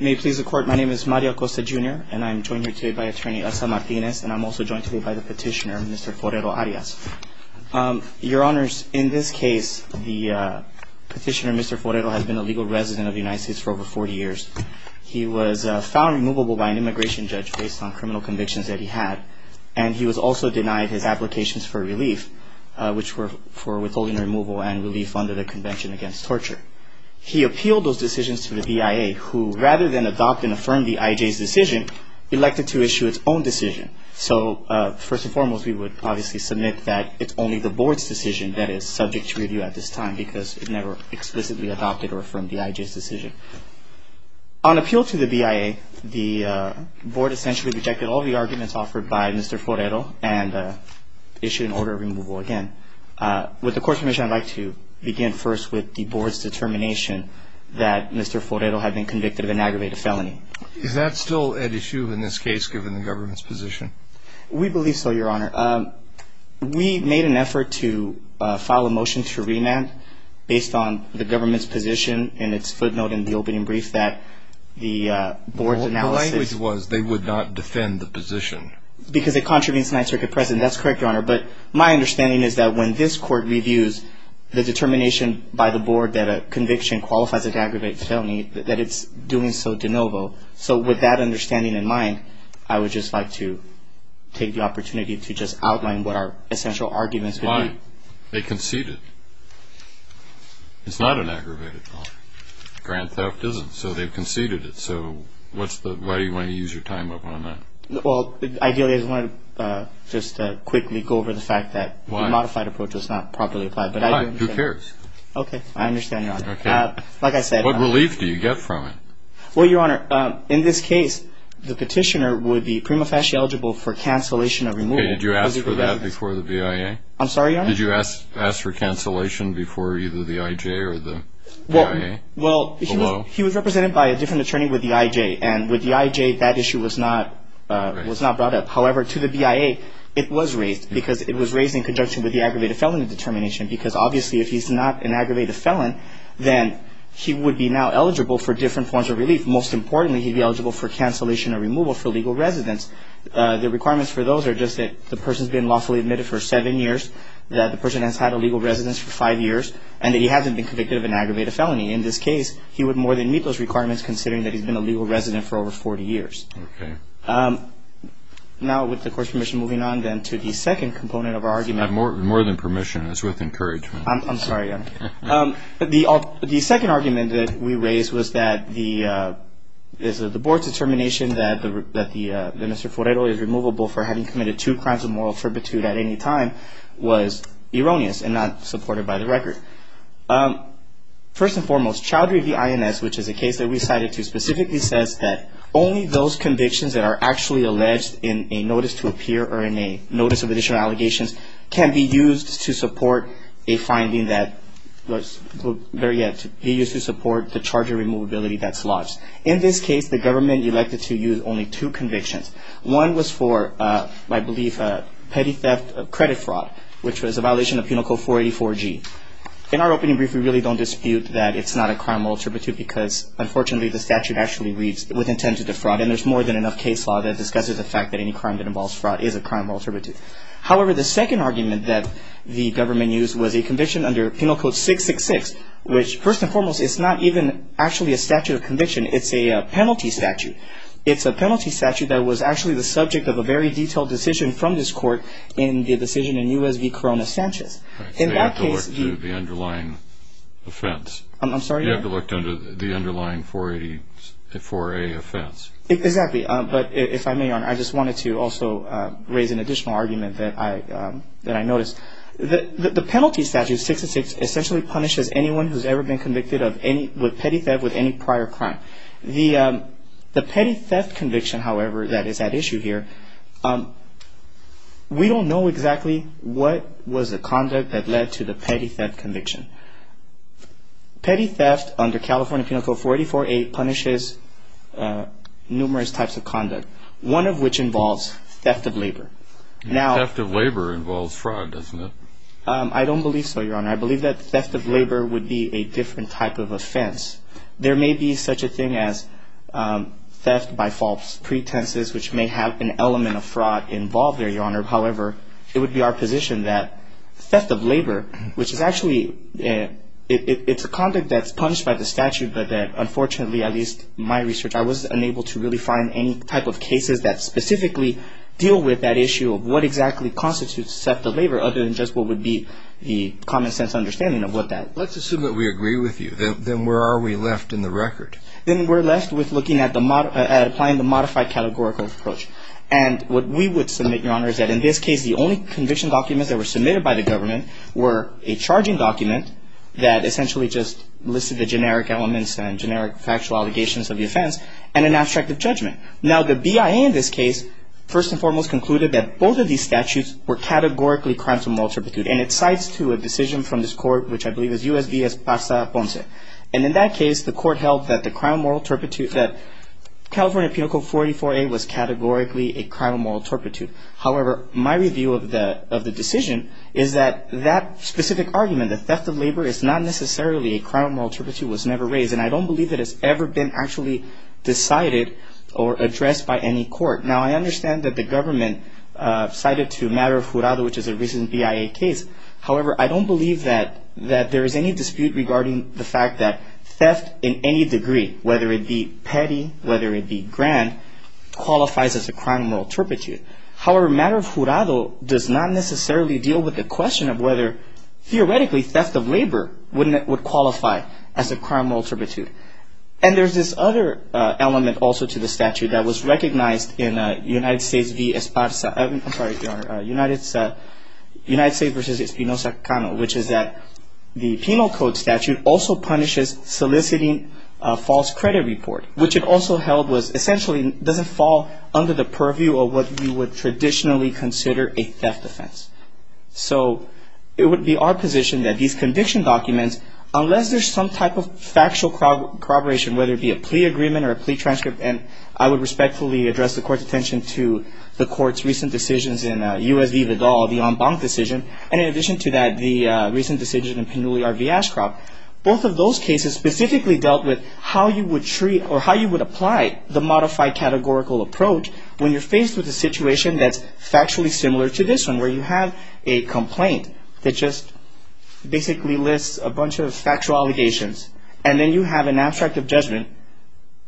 May it please the Court, my name is Mario Acosta Jr. and I'm joined here today by Attorney Elsa Martinez and I'm also joined today by the Petitioner, Mr. Forero-Arias. Your Honors, in this case, the Petitioner, Mr. Forero, has been a legal resident of the United States for over 40 years. He was found removable by an immigration judge based on criminal convictions that he had. And he was also denied his applications for relief, which were for withholding removal and relief under the Convention Against Torture. He appealed those decisions to the BIA, who, rather than adopt and affirm the IJ's decision, elected to issue its own decision. So, first and foremost, we would obviously submit that it's only the Board's decision that is subject to review at this time because it never explicitly adopted or affirmed the IJ's decision. On appeal to the BIA, the Board essentially rejected all the arguments offered by Mr. Forero and issued an order of removal again. With the Court's permission, I'd like to begin first with the Board's determination that Mr. Forero had been convicted of an aggravated felony. Is that still at issue in this case, given the Government's position? We believe so, Your Honor. We made an effort to file a motion to remand based on the Government's position and its footnote in the opening brief that the Board's analysis... The language was they would not defend the position. Because it contravenes Ninth Circuit precedent. That's correct, Your Honor. But my understanding is that when this Court reviews the determination by the Board that a conviction qualifies as an aggravated felony, that it's doing so de novo. So with that understanding in mind, I would just like to take the opportunity to just outline what our essential arguments would be. Why? They conceded. It's not an aggravated felony. Grand theft isn't, so they've conceded it. So why do you want to use your time up on that? Ideally, I just wanted to quickly go over the fact that the modified approach was not properly applied. Who cares? Okay, I understand, Your Honor. What relief do you get from it? Well, Your Honor, in this case, the petitioner would be prima facie eligible for cancellation of removal. Did you ask for that before the BIA? I'm sorry, Your Honor? Did you ask for cancellation before either the IJ or the BIA? Well, he was represented by a different attorney with the IJ, and with the IJ, that issue was not brought up. However, to the BIA, it was raised because it was raised in conjunction with the aggravated felony determination because obviously if he's not an aggravated felon, then he would be now eligible for different forms of relief. Most importantly, he'd be eligible for cancellation or removal for legal residence. The requirements for those are just that the person's been lawfully admitted for seven years, that the person has had a legal residence for five years, and that he hasn't been convicted of an aggravated felony. In this case, he would more than meet those requirements considering that he's been a legal resident for over 40 years. Okay. Now, with the Court's permission, moving on then to the second component of our argument. More than permission. It's worth encouragement. I'm sorry, Your Honor. The second argument that we raised was that the Board's determination that Mr. Forero is removable for having committed two crimes of moral fervitude at any time was erroneous and not supported by the record. First and foremost, child review INS, which is a case that we cited too, specifically says that only those convictions that are actually alleged in a notice to appear or in a notice of additional allegations can be used to support a finding that, better yet, be used to support the charge of removability that's lodged. In this case, the government elected to use only two convictions. One was for, I believe, petty theft of credit fraud, which was a violation of Penal Code 484G. In our opening brief, we really don't dispute that it's not a crime of moral fervitude because, unfortunately, the statute actually reads with intent to defraud, and there's more than enough case law that discusses the fact that any crime that involves fraud is a crime of moral fervitude. However, the second argument that the government used was a conviction under Penal Code 666, which, first and foremost, is not even actually a statute of conviction. It's a penalty statute. It's a penalty statute that was actually the subject of a very detailed decision from this court in the decision in U.S. v. Corona Sanchez. In that case, the- You have to look to the underlying offense. I'm sorry? You have to look to the underlying 484A offense. Exactly. But if I may, Your Honor, I just wanted to also raise an additional argument that I noticed. The penalty statute, 666, essentially punishes anyone who's ever been convicted with petty theft with any prior crime. The petty theft conviction, however, that is at issue here, we don't know exactly what was the conduct that led to the petty theft conviction. Petty theft under California Penal Code 484A punishes numerous types of conduct, one of which involves theft of labor. Now- Theft of labor involves fraud, doesn't it? I don't believe so, Your Honor. There may be such a thing as theft by false pretenses, which may have an element of fraud involved there, Your Honor. However, it would be our position that theft of labor, which is actually- It's a conduct that's punished by the statute, but that unfortunately, at least in my research, I was unable to really find any type of cases that specifically deal with that issue of what exactly constitutes theft of labor other than just what would be the common sense understanding of what that- Let's assume that we agree with you. Then where are we left in the record? Then we're left with looking at applying the modified categorical approach. And what we would submit, Your Honor, is that in this case, the only conviction documents that were submitted by the government were a charging document that essentially just listed the generic elements and generic factual allegations of the offense, and an abstract of judgment. Now, the BIA in this case, first and foremost, concluded that both of these statutes were categorically crimes of maltreatment. And it cites to a decision from this court, which I believe is U.S. v. Esparza Ponce. And in that case, the court held that the crime of moral turpitude- that California Penal Code 44A was categorically a crime of moral turpitude. However, my review of the decision is that that specific argument, the theft of labor, is not necessarily a crime of moral turpitude. It was never raised. And I don't believe that it's ever been actually decided or addressed by any court. Now, I understand that the government cited to Matter of Jurado, which is a recent BIA case. However, I don't believe that there is any dispute regarding the fact that theft in any degree, whether it be petty, whether it be grand, qualifies as a crime of moral turpitude. However, Matter of Jurado does not necessarily deal with the question of whether, theoretically, theft of labor would qualify as a crime of moral turpitude. And there's this other element also to the statute that was recognized in United States v. Esparza- I'm sorry, Your Honor, United States v. Espinoza-Cano, which is that the Penal Code statute also punishes soliciting a false credit report, which it also held was essentially doesn't fall under the purview of what you would traditionally consider a theft offense. So it would be our position that these conviction documents, unless there's some type of factual corroboration, whether it be a plea agreement or a plea transcript, and I would respectfully address the Court's attention to the Court's recent decisions in U.S. v. Vidal, the en banc decision, and in addition to that, the recent decision in Pinulli v. Ashcroft, both of those cases specifically dealt with how you would treat or how you would apply the modified categorical approach when you're faced with a situation that's factually similar to this one, where you have a complaint that just basically lists a bunch of factual allegations, and then you have an abstract of judgment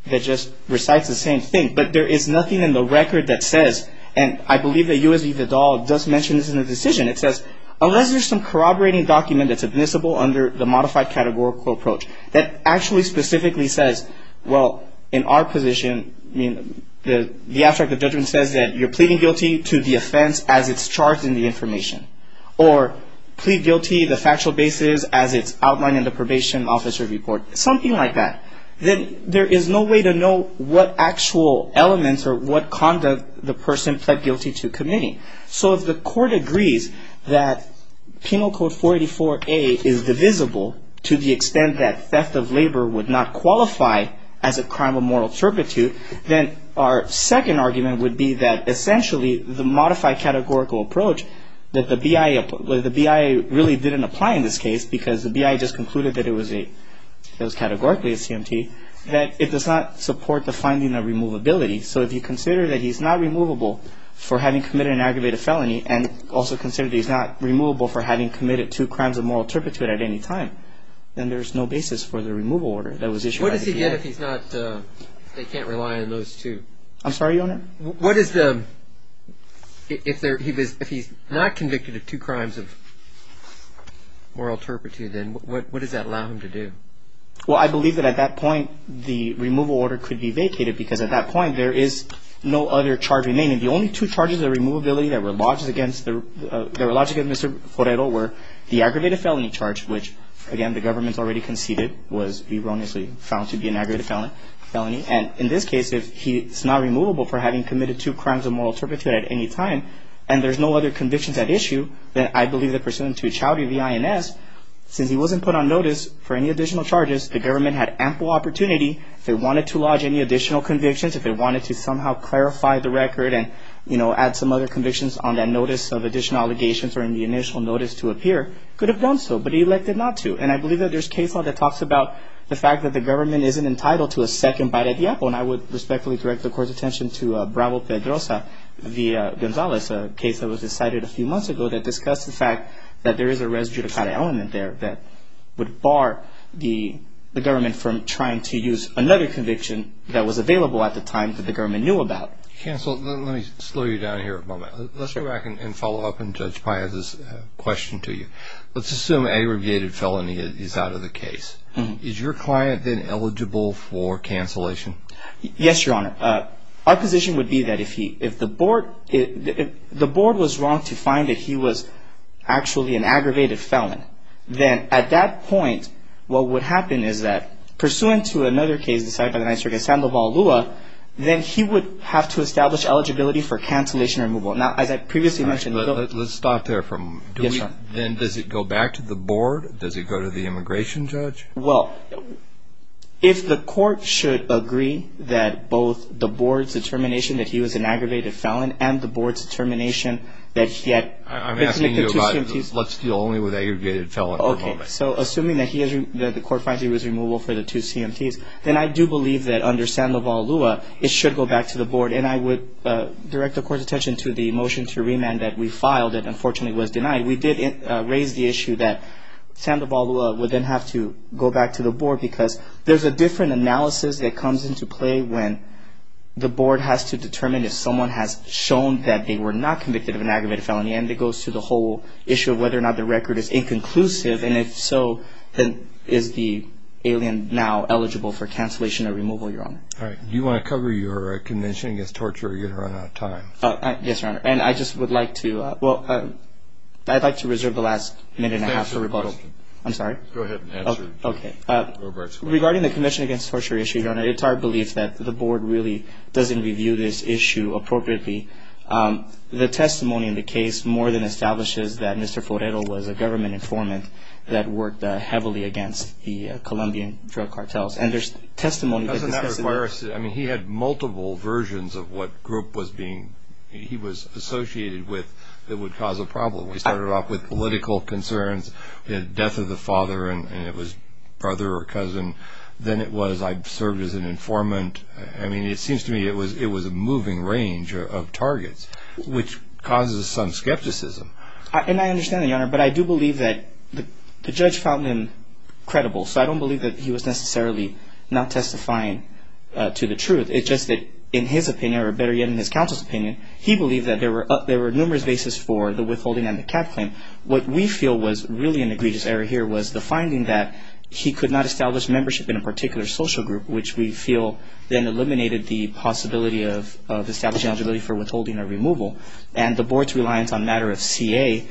that just recites the same thing, but there is nothing in the record that says, and I believe that U.S. v. Vidal does mention this in the decision, it says, unless there's some corroborating document that's admissible under the modified categorical approach that actually specifically says, well, in our position, I mean, the abstract of judgment says that you're pleading guilty to the offense as it's charged in the information, or plead guilty the factual basis as it's outlined in the probation officer's report, something like that. Then there is no way to know what actual elements or what conduct the person pled guilty to committing. So if the court agrees that Penal Code 484A is divisible to the extent that theft of labor would not qualify as a crime of moral turpitude, then our second argument would be that essentially the modified categorical approach that the BIA really didn't apply in this case because the BIA just concluded that it was categorically a CMT, that it does not support the finding of removability. So if you consider that he's not removable for having committed an aggravated felony and also consider that he's not removable for having committed two crimes of moral turpitude at any time, then there's no basis for the removal order that was issued by the BIA. What does he get if he's not, if they can't rely on those two? I'm sorry, Your Honor? What is the, if he's not convicted of two crimes of moral turpitude, then what does that allow him to do? Well, I believe that at that point the removal order could be vacated because at that point there is no other charge remaining. The only two charges of removability that were lodged against Mr. Forero were the aggravated felony charge, which again the government's already conceded was erroneously found to be an aggravated felony. And in this case, if he's not removable for having committed two crimes of moral turpitude at any time and there's no other convictions at issue, then I believe that pursuant to a chowdhury of the INS, since he wasn't put on notice for any additional charges, the government had ample opportunity, if they wanted to lodge any additional convictions, if they wanted to somehow clarify the record and, you know, add some other convictions on that notice of additional allegations or in the initial notice to appear, could have done so, but he elected not to. And I believe that there's case law that talks about the fact that the government isn't entitled to a second bite at the apple. And I would respectfully direct the Court's attention to Bravo Pedrosa v. Gonzalez, a case that was decided a few months ago that discussed the fact that there is a res judicata element there that would bar the government from trying to use another conviction that was available at the time that the government knew about. Counsel, let me slow you down here a moment. Let's go back and follow up on Judge Paez's question to you. Let's assume aggravated felony is out of the case. Is your client then eligible for cancellation? Yes, Your Honor. Our position would be that if the Board was wrong to find that he was actually an aggravated felon, then at that point what would happen is that, pursuant to another case decided by the Ninth Circuit, Sandoval-Lua, then he would have to establish eligibility for cancellation removal. Now, as I previously mentioned, the government... Let's stop there for a moment. Yes, Your Honor. Then does it go back to the Board? Does it go to the immigration judge? Well, if the Court should agree that both the Board's determination that he was an aggravated felon and the Board's determination that he had... I'm asking you about let's deal only with aggravated felons. Okay. So assuming that the Court finds he was removable for the two CMTs, then I do believe that under Sandoval-Lua it should go back to the Board, and I would direct the Court's attention to the motion to remand that we filed that unfortunately was denied. We did raise the issue that Sandoval-Lua would then have to go back to the Board because there's a different analysis that comes into play when the Board has to determine if someone has shown that they were not convicted of an aggravated felony, and it goes to the whole issue of whether or not the record is inconclusive, and if so, then is the alien now eligible for cancellation or removal, Your Honor? All right. Do you want to cover your convention against torture or are you going to run out of time? Yes, Your Honor. And I just would like to, well, I'd like to reserve the last minute and a half for rebuttal. I'm sorry? Go ahead. Okay. Regarding the convention against torture issue, Your Honor, it's our belief that the Board really doesn't review this issue appropriately. The testimony in the case more than establishes that Mr. Forero was a government informant that worked heavily against the Colombian drug cartels, and there's testimony that discusses... I mean, he had multiple versions of what group he was associated with that would cause a problem. He started off with political concerns, death of the father, and it was brother or cousin. Then it was I served as an informant. I mean, it seems to me it was a moving range of targets, which causes some skepticism. And I understand that, Your Honor, but I do believe that the judge found him credible, so I don't believe that he was necessarily not testifying to the truth. It's just that in his opinion, or better yet, in his counsel's opinion, he believed that there were numerous bases for the withholding and the cap claim. What we feel was really an egregious error here was the finding that he could not establish membership in a particular social group, which we feel then eliminated the possibility of establishing eligibility for withholding or removal. And the Board's reliance on matter of CA,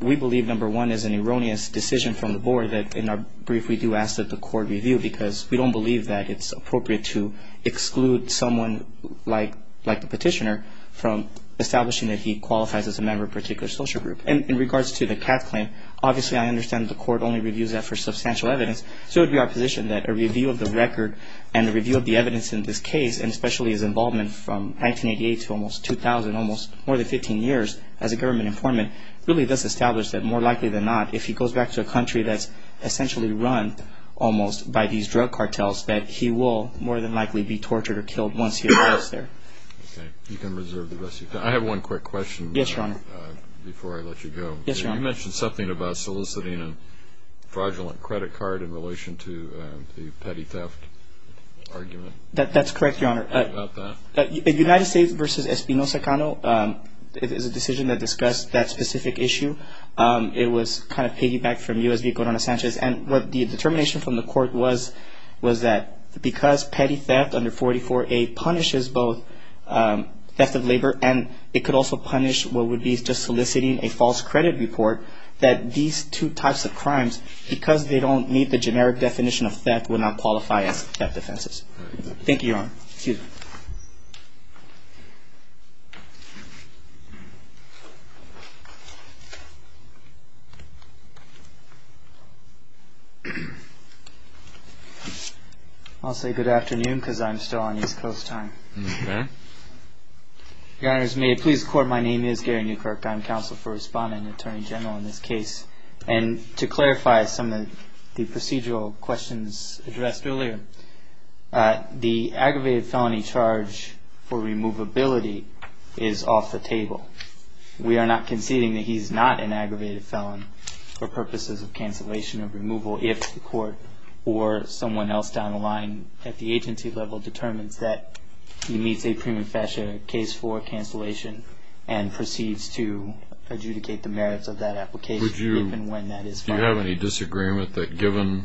we believe, number one, is an erroneous decision from the Board that in our brief we do ask that the court review because we don't believe that it's appropriate to exclude someone like the petitioner from establishing that he qualifies as a member of a particular social group. And in regards to the cap claim, obviously I understand the court only reviews that for substantial evidence, so it would be our position that a review of the record and a review of the evidence in this case, and especially his involvement from 1988 to almost 2000, almost more than 15 years as a government informant, really does establish that more likely than not, if he goes back to a country that's essentially run almost by these drug cartels, that he will more than likely be tortured or killed once he arrives there. Okay. You can reserve the rest of your time. I have one quick question. Yes, Your Honor. Before I let you go. Yes, Your Honor. You mentioned something about soliciting a fraudulent credit card in relation to the petty theft argument. That's correct, Your Honor. About that? United States v. Espino Sacano is a decision that discussed that specific issue. It was kind of piggybacked from U.S. v. Corona Sanchez. And the determination from the court was that because petty theft under 44A punishes both theft of labor and it could also punish what would be just soliciting a false credit report, that these two types of crimes, because they don't meet the generic definition of theft, would not qualify as theft offenses. Thank you, Your Honor. Thank you. I'll say good afternoon because I'm still on East Coast time. Okay. Your Honors, may it please the Court, my name is Gary Newkirk. I'm counsel for Respondent and Attorney General in this case. And to clarify some of the procedural questions addressed earlier, the aggravated felony charge for removability is off the table. We are not conceding that he's not an aggravated felon for purposes of cancellation of removal if the court or someone else down the line at the agency level determines that he meets a prima facie case for cancellation and proceeds to adjudicate the merits of that application even when that is final. Do you have any disagreement that given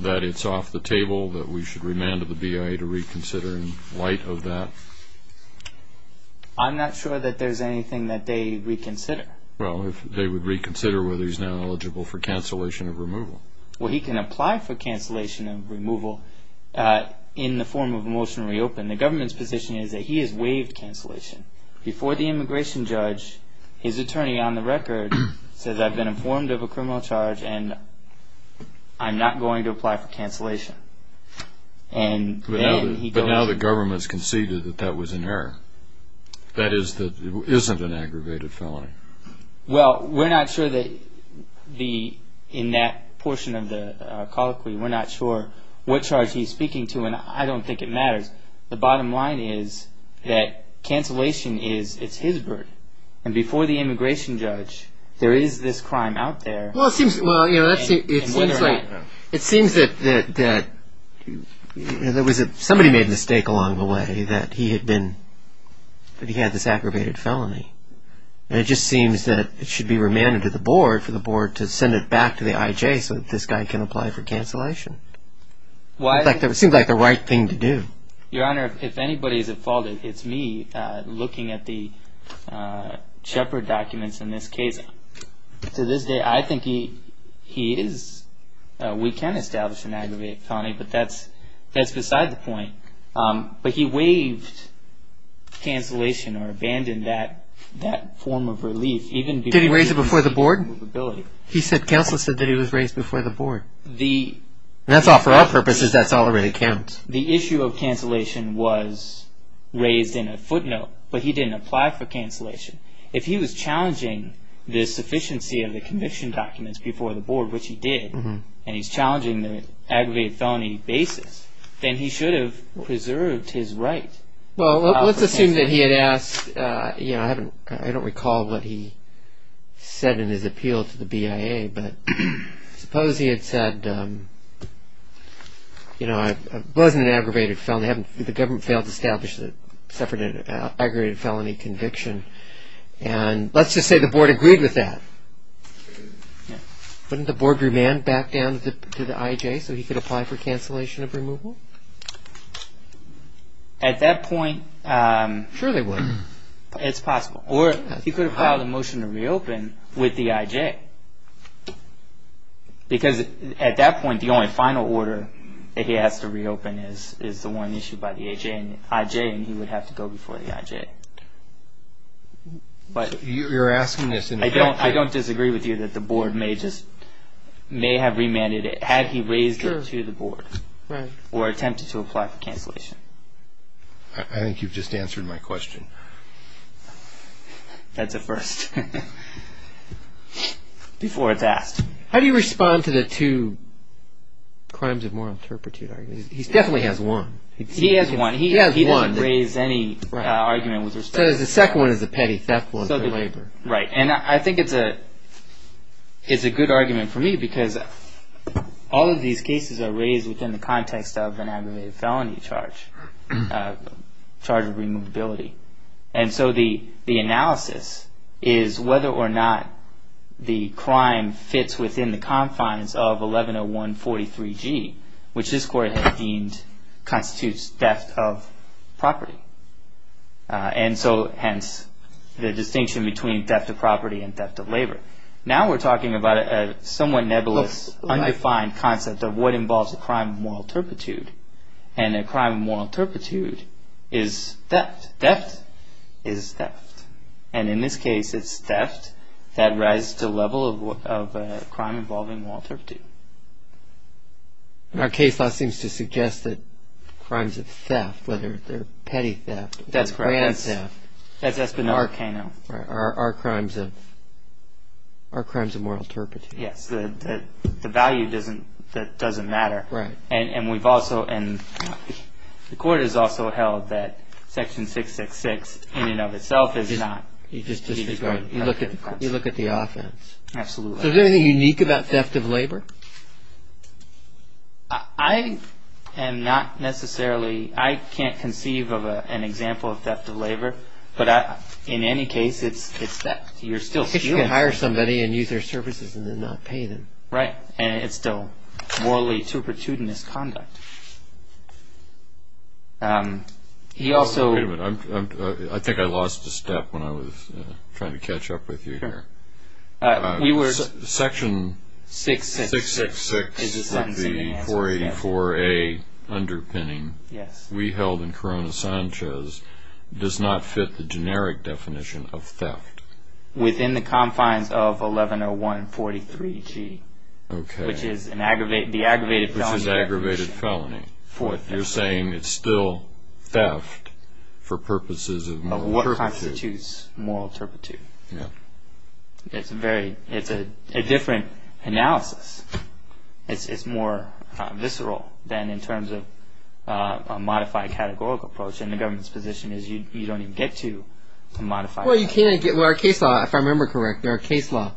that it's off the table that we should remand the BIA to reconsider in light of that? I'm not sure that there's anything that they reconsider. Well, if they would reconsider whether he's now eligible for cancellation of removal. Well, he can apply for cancellation of removal in the form of a motion to reopen. The government's position is that he has waived cancellation. Before the immigration judge, his attorney on the record says, I've been informed of a criminal charge and I'm not going to apply for cancellation. But now the government's conceded that that was an error. That is, that it isn't an aggravated felony. Well, we're not sure that in that portion of the colloquy, we're not sure what charge he's speaking to and I don't think it matters. The bottom line is that cancellation is his burden. And before the immigration judge, there is this crime out there. Well, it seems that somebody made a mistake along the way that he had this aggravated felony. It just seems that it should be remanded to the board for the board to send it back to the IJ so that this guy can apply for cancellation. It seems like the right thing to do. Your Honor, if anybody is at fault, it's me looking at the Shepard documents in this case. To this day, I think he is. We can establish an aggravated felony, but that's beside the point. But he waived cancellation or abandoned that form of relief. Did he raise it before the board? Counsel said that he was raised before the board. That's all for our purposes. That's all that really counts. The issue of cancellation was raised in a footnote, but he didn't apply for cancellation. If he was challenging the sufficiency of the conviction documents before the board, which he did, and he's challenging the aggravated felony basis, then he should have preserved his right. Well, let's assume that he had asked. I don't recall what he said in his appeal to the BIA, but I suppose he had said, it wasn't an aggravated felony. The government failed to establish that Shepard had an aggravated felony conviction. Let's just say the board agreed with that. Wouldn't the board remand back down to the IJ so he could apply for cancellation of removal? At that point, it's possible. Or he could have filed a motion to reopen with the IJ. Because at that point, the only final order that he has to reopen is the one issued by the IJ, and he would have to go before the IJ. You're asking this in a... I don't disagree with you that the board may have remanded it had he raised it to the board or attempted to apply for cancellation. I think you've just answered my question. That's a first. Before it's asked. How do you respond to the two crimes of moral turpitude arguments? He definitely has one. He has one. He didn't raise any argument with respect to... So the second one is a petty theft one for labor. Right. And I think it's a good argument for me because all of these cases are raised within the context of an aggravated felony charge, charge of removability. And so the analysis is whether or not the crime fits within the confines of 110143G, which this court has deemed constitutes theft of property. And so, hence, the distinction between theft of property and theft of labor. Now we're talking about a somewhat nebulous, undefined concept of what involves a crime of moral turpitude, and a crime of moral turpitude is theft. Theft is theft. And in this case, it's theft that rises to the level of a crime involving moral turpitude. Our case law seems to suggest that crimes of theft, whether they're petty theft or grand theft... That's correct. ...are crimes of moral turpitude. Yes. The value doesn't matter. Right. And we've also, and the court has also held that Section 666 in and of itself is not... You look at the offense. Absolutely. Is there anything unique about theft of labor? I am not necessarily... I can't conceive of an example of theft of labor, but in any case, it's theft. You're still... If you can hire somebody and use their services and then not pay them. Right. And it's still morally turpitudinous conduct. He also... Wait a minute. I think I lost a step when I was trying to catch up with you here. We were... Section 666 is the 484A underpinning we held in Corona Sanchez does not fit the generic definition of theft. Within the confines of 1101.43g. Okay. Which is the aggravated felony definition. Which is aggravated felony. You're saying it's still theft for purposes of moral turpitude. It's a very... It's a different analysis. It's more visceral than in terms of a modified categorical approach. And the government's position is you don't even get to modify... Well, you can't get... Well, our case law, if I remember correctly, our case law,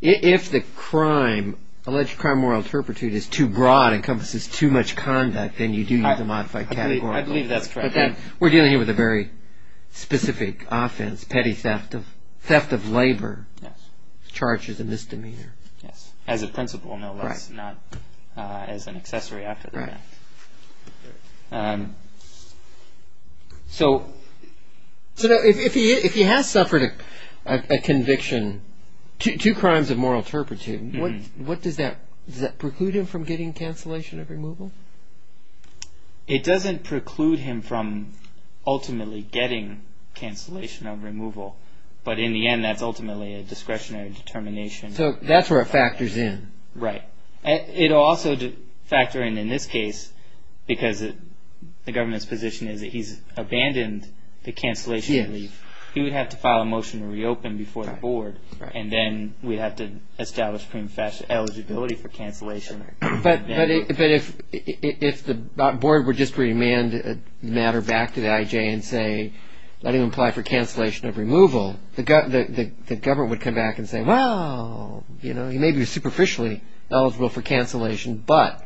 if the crime, alleged crime, moral turpitude is too broad, encompasses too much conduct, then you do need the modified categorical. I believe that's correct. We're dealing here with a very specific offense, petty theft of labor charges and misdemeanor. As a principle, no less, not as an accessory after the fact. Right. So if he has suffered a conviction, two crimes of moral turpitude, what does that... does that preclude him from getting cancellation of removal? It doesn't preclude him from ultimately getting cancellation of removal. But in the end, that's ultimately a discretionary determination. So that's where it factors in. Right. It'll also factor in, in this case, because the government's position is that he's abandoned the cancellation relief. He would have to file a motion to reopen before the board. And then we'd have to establish eligibility for cancellation. But if the board would just remand the matter back to the IJ and say, let him apply for cancellation of removal, the government would come back and say, well, you know, he may be superficially eligible for cancellation, but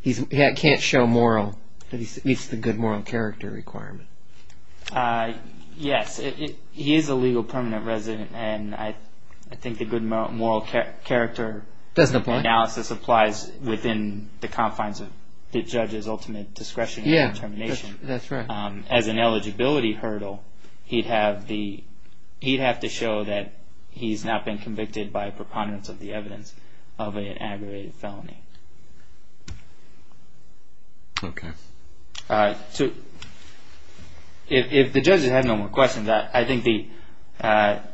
he can't show moral, that he meets the good moral character requirement. Yes. He is a legal permanent resident, and I think the good moral character... Doesn't apply. ...analysis applies within the confines of the judge's ultimate discretionary determination. Yes, that's right. As an eligibility hurdle, he'd have the... he'd have to show that he's not been convicted by a preponderance of the evidence of an aggravated felony. Okay. If the judges have no more questions, I think the...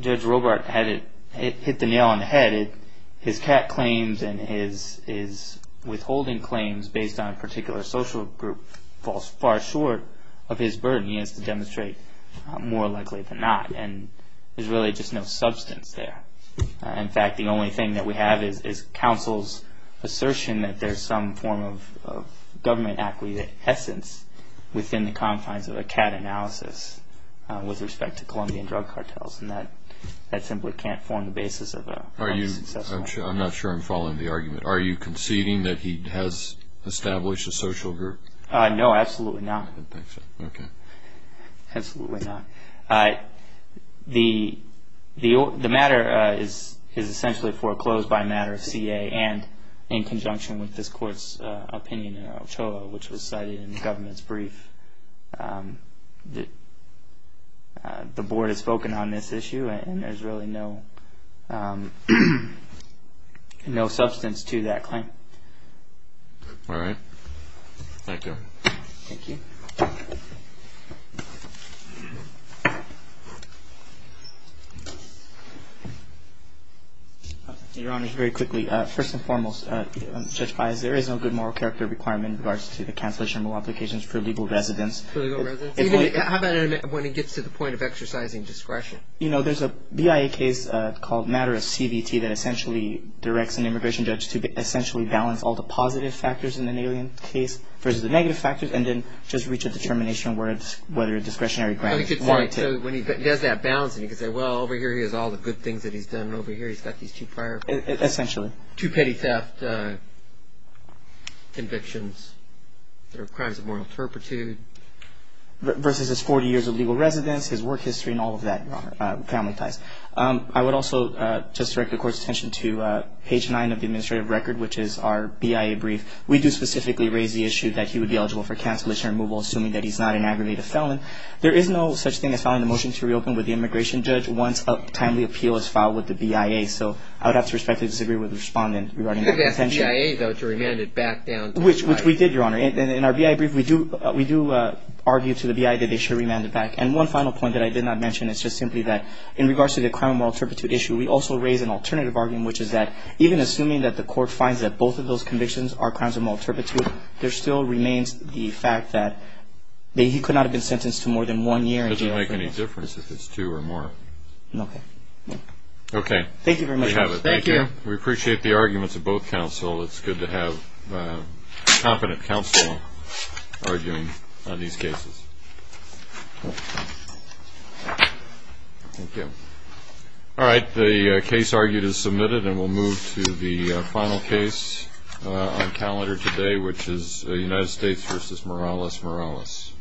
Judge Robart had it hit the nail on the head. His CAT claims and his withholding claims based on a particular social group falls far short of his burden. He has to demonstrate more likely than not. And there's really just no substance there. In fact, the only thing that we have is counsel's assertion that there's some form of government acquiescence within the confines of a CAT analysis with respect to Colombian drug cartels. And that simply can't form the basis of a... I'm not sure I'm following the argument. Are you conceding that he has established a social group? No, absolutely not. I didn't think so. Okay. Absolutely not. The matter is essentially foreclosed by a matter of CA and in conjunction with this court's opinion in Ochoa, which was cited in the government's brief. The board has spoken on this issue and there's really no substance to that claim. All right. Thank you. Thank you. Your Honor, very quickly. First and foremost, Judge Baez, there is no good moral character requirement in regards to the cancellation of all applications for legal residence. For legal residence? How about when it gets to the point of exercising discretion? You know, there's a BIA case called Matter of CBT that essentially directs an immigration judge to essentially balance all the positive factors in an alien case versus the negative factors and then just reach a determination whether a discretionary grant is warranted. So when he does that balancing, he can say, well, over here he has all the good things that he's done and over here he's got these two prior... Essentially. Two petty theft convictions. There are crimes of moral turpitude. Versus his 40 years of legal residence, his work history and all of that, Your Honor, family ties. I would also just direct the court's attention to page 9 of the administrative record, which is our BIA brief. We do specifically raise the issue that he would be eligible for cancellation or removal assuming that he's not an aggravated felon. There is no such thing as filing a motion to reopen with the immigration judge once a timely appeal is filed with the BIA. So I would have to respectfully disagree with the respondent regarding that intention. But that's BIA, though, to remand it back down to the BIA. Which we did, Your Honor. In our BIA brief, we do argue to the BIA that they should remand it back. And one final point that I did not mention is just simply that in regards to the crime of moral turpitude issue, we also raise an alternative argument, which is that even assuming that the court finds that both of those convictions are crimes of moral turpitude, there still remains the fact that he could not have been sentenced to more than one year. It doesn't make any difference if it's two or more. Okay. Thank you very much. Thank you. We appreciate the arguments of both counsel. It's good to have competent counsel arguing on these cases. Thank you. All right. The case argued is submitted, and we'll move to the final case on calendar today, which is United States v. Morales-Morales.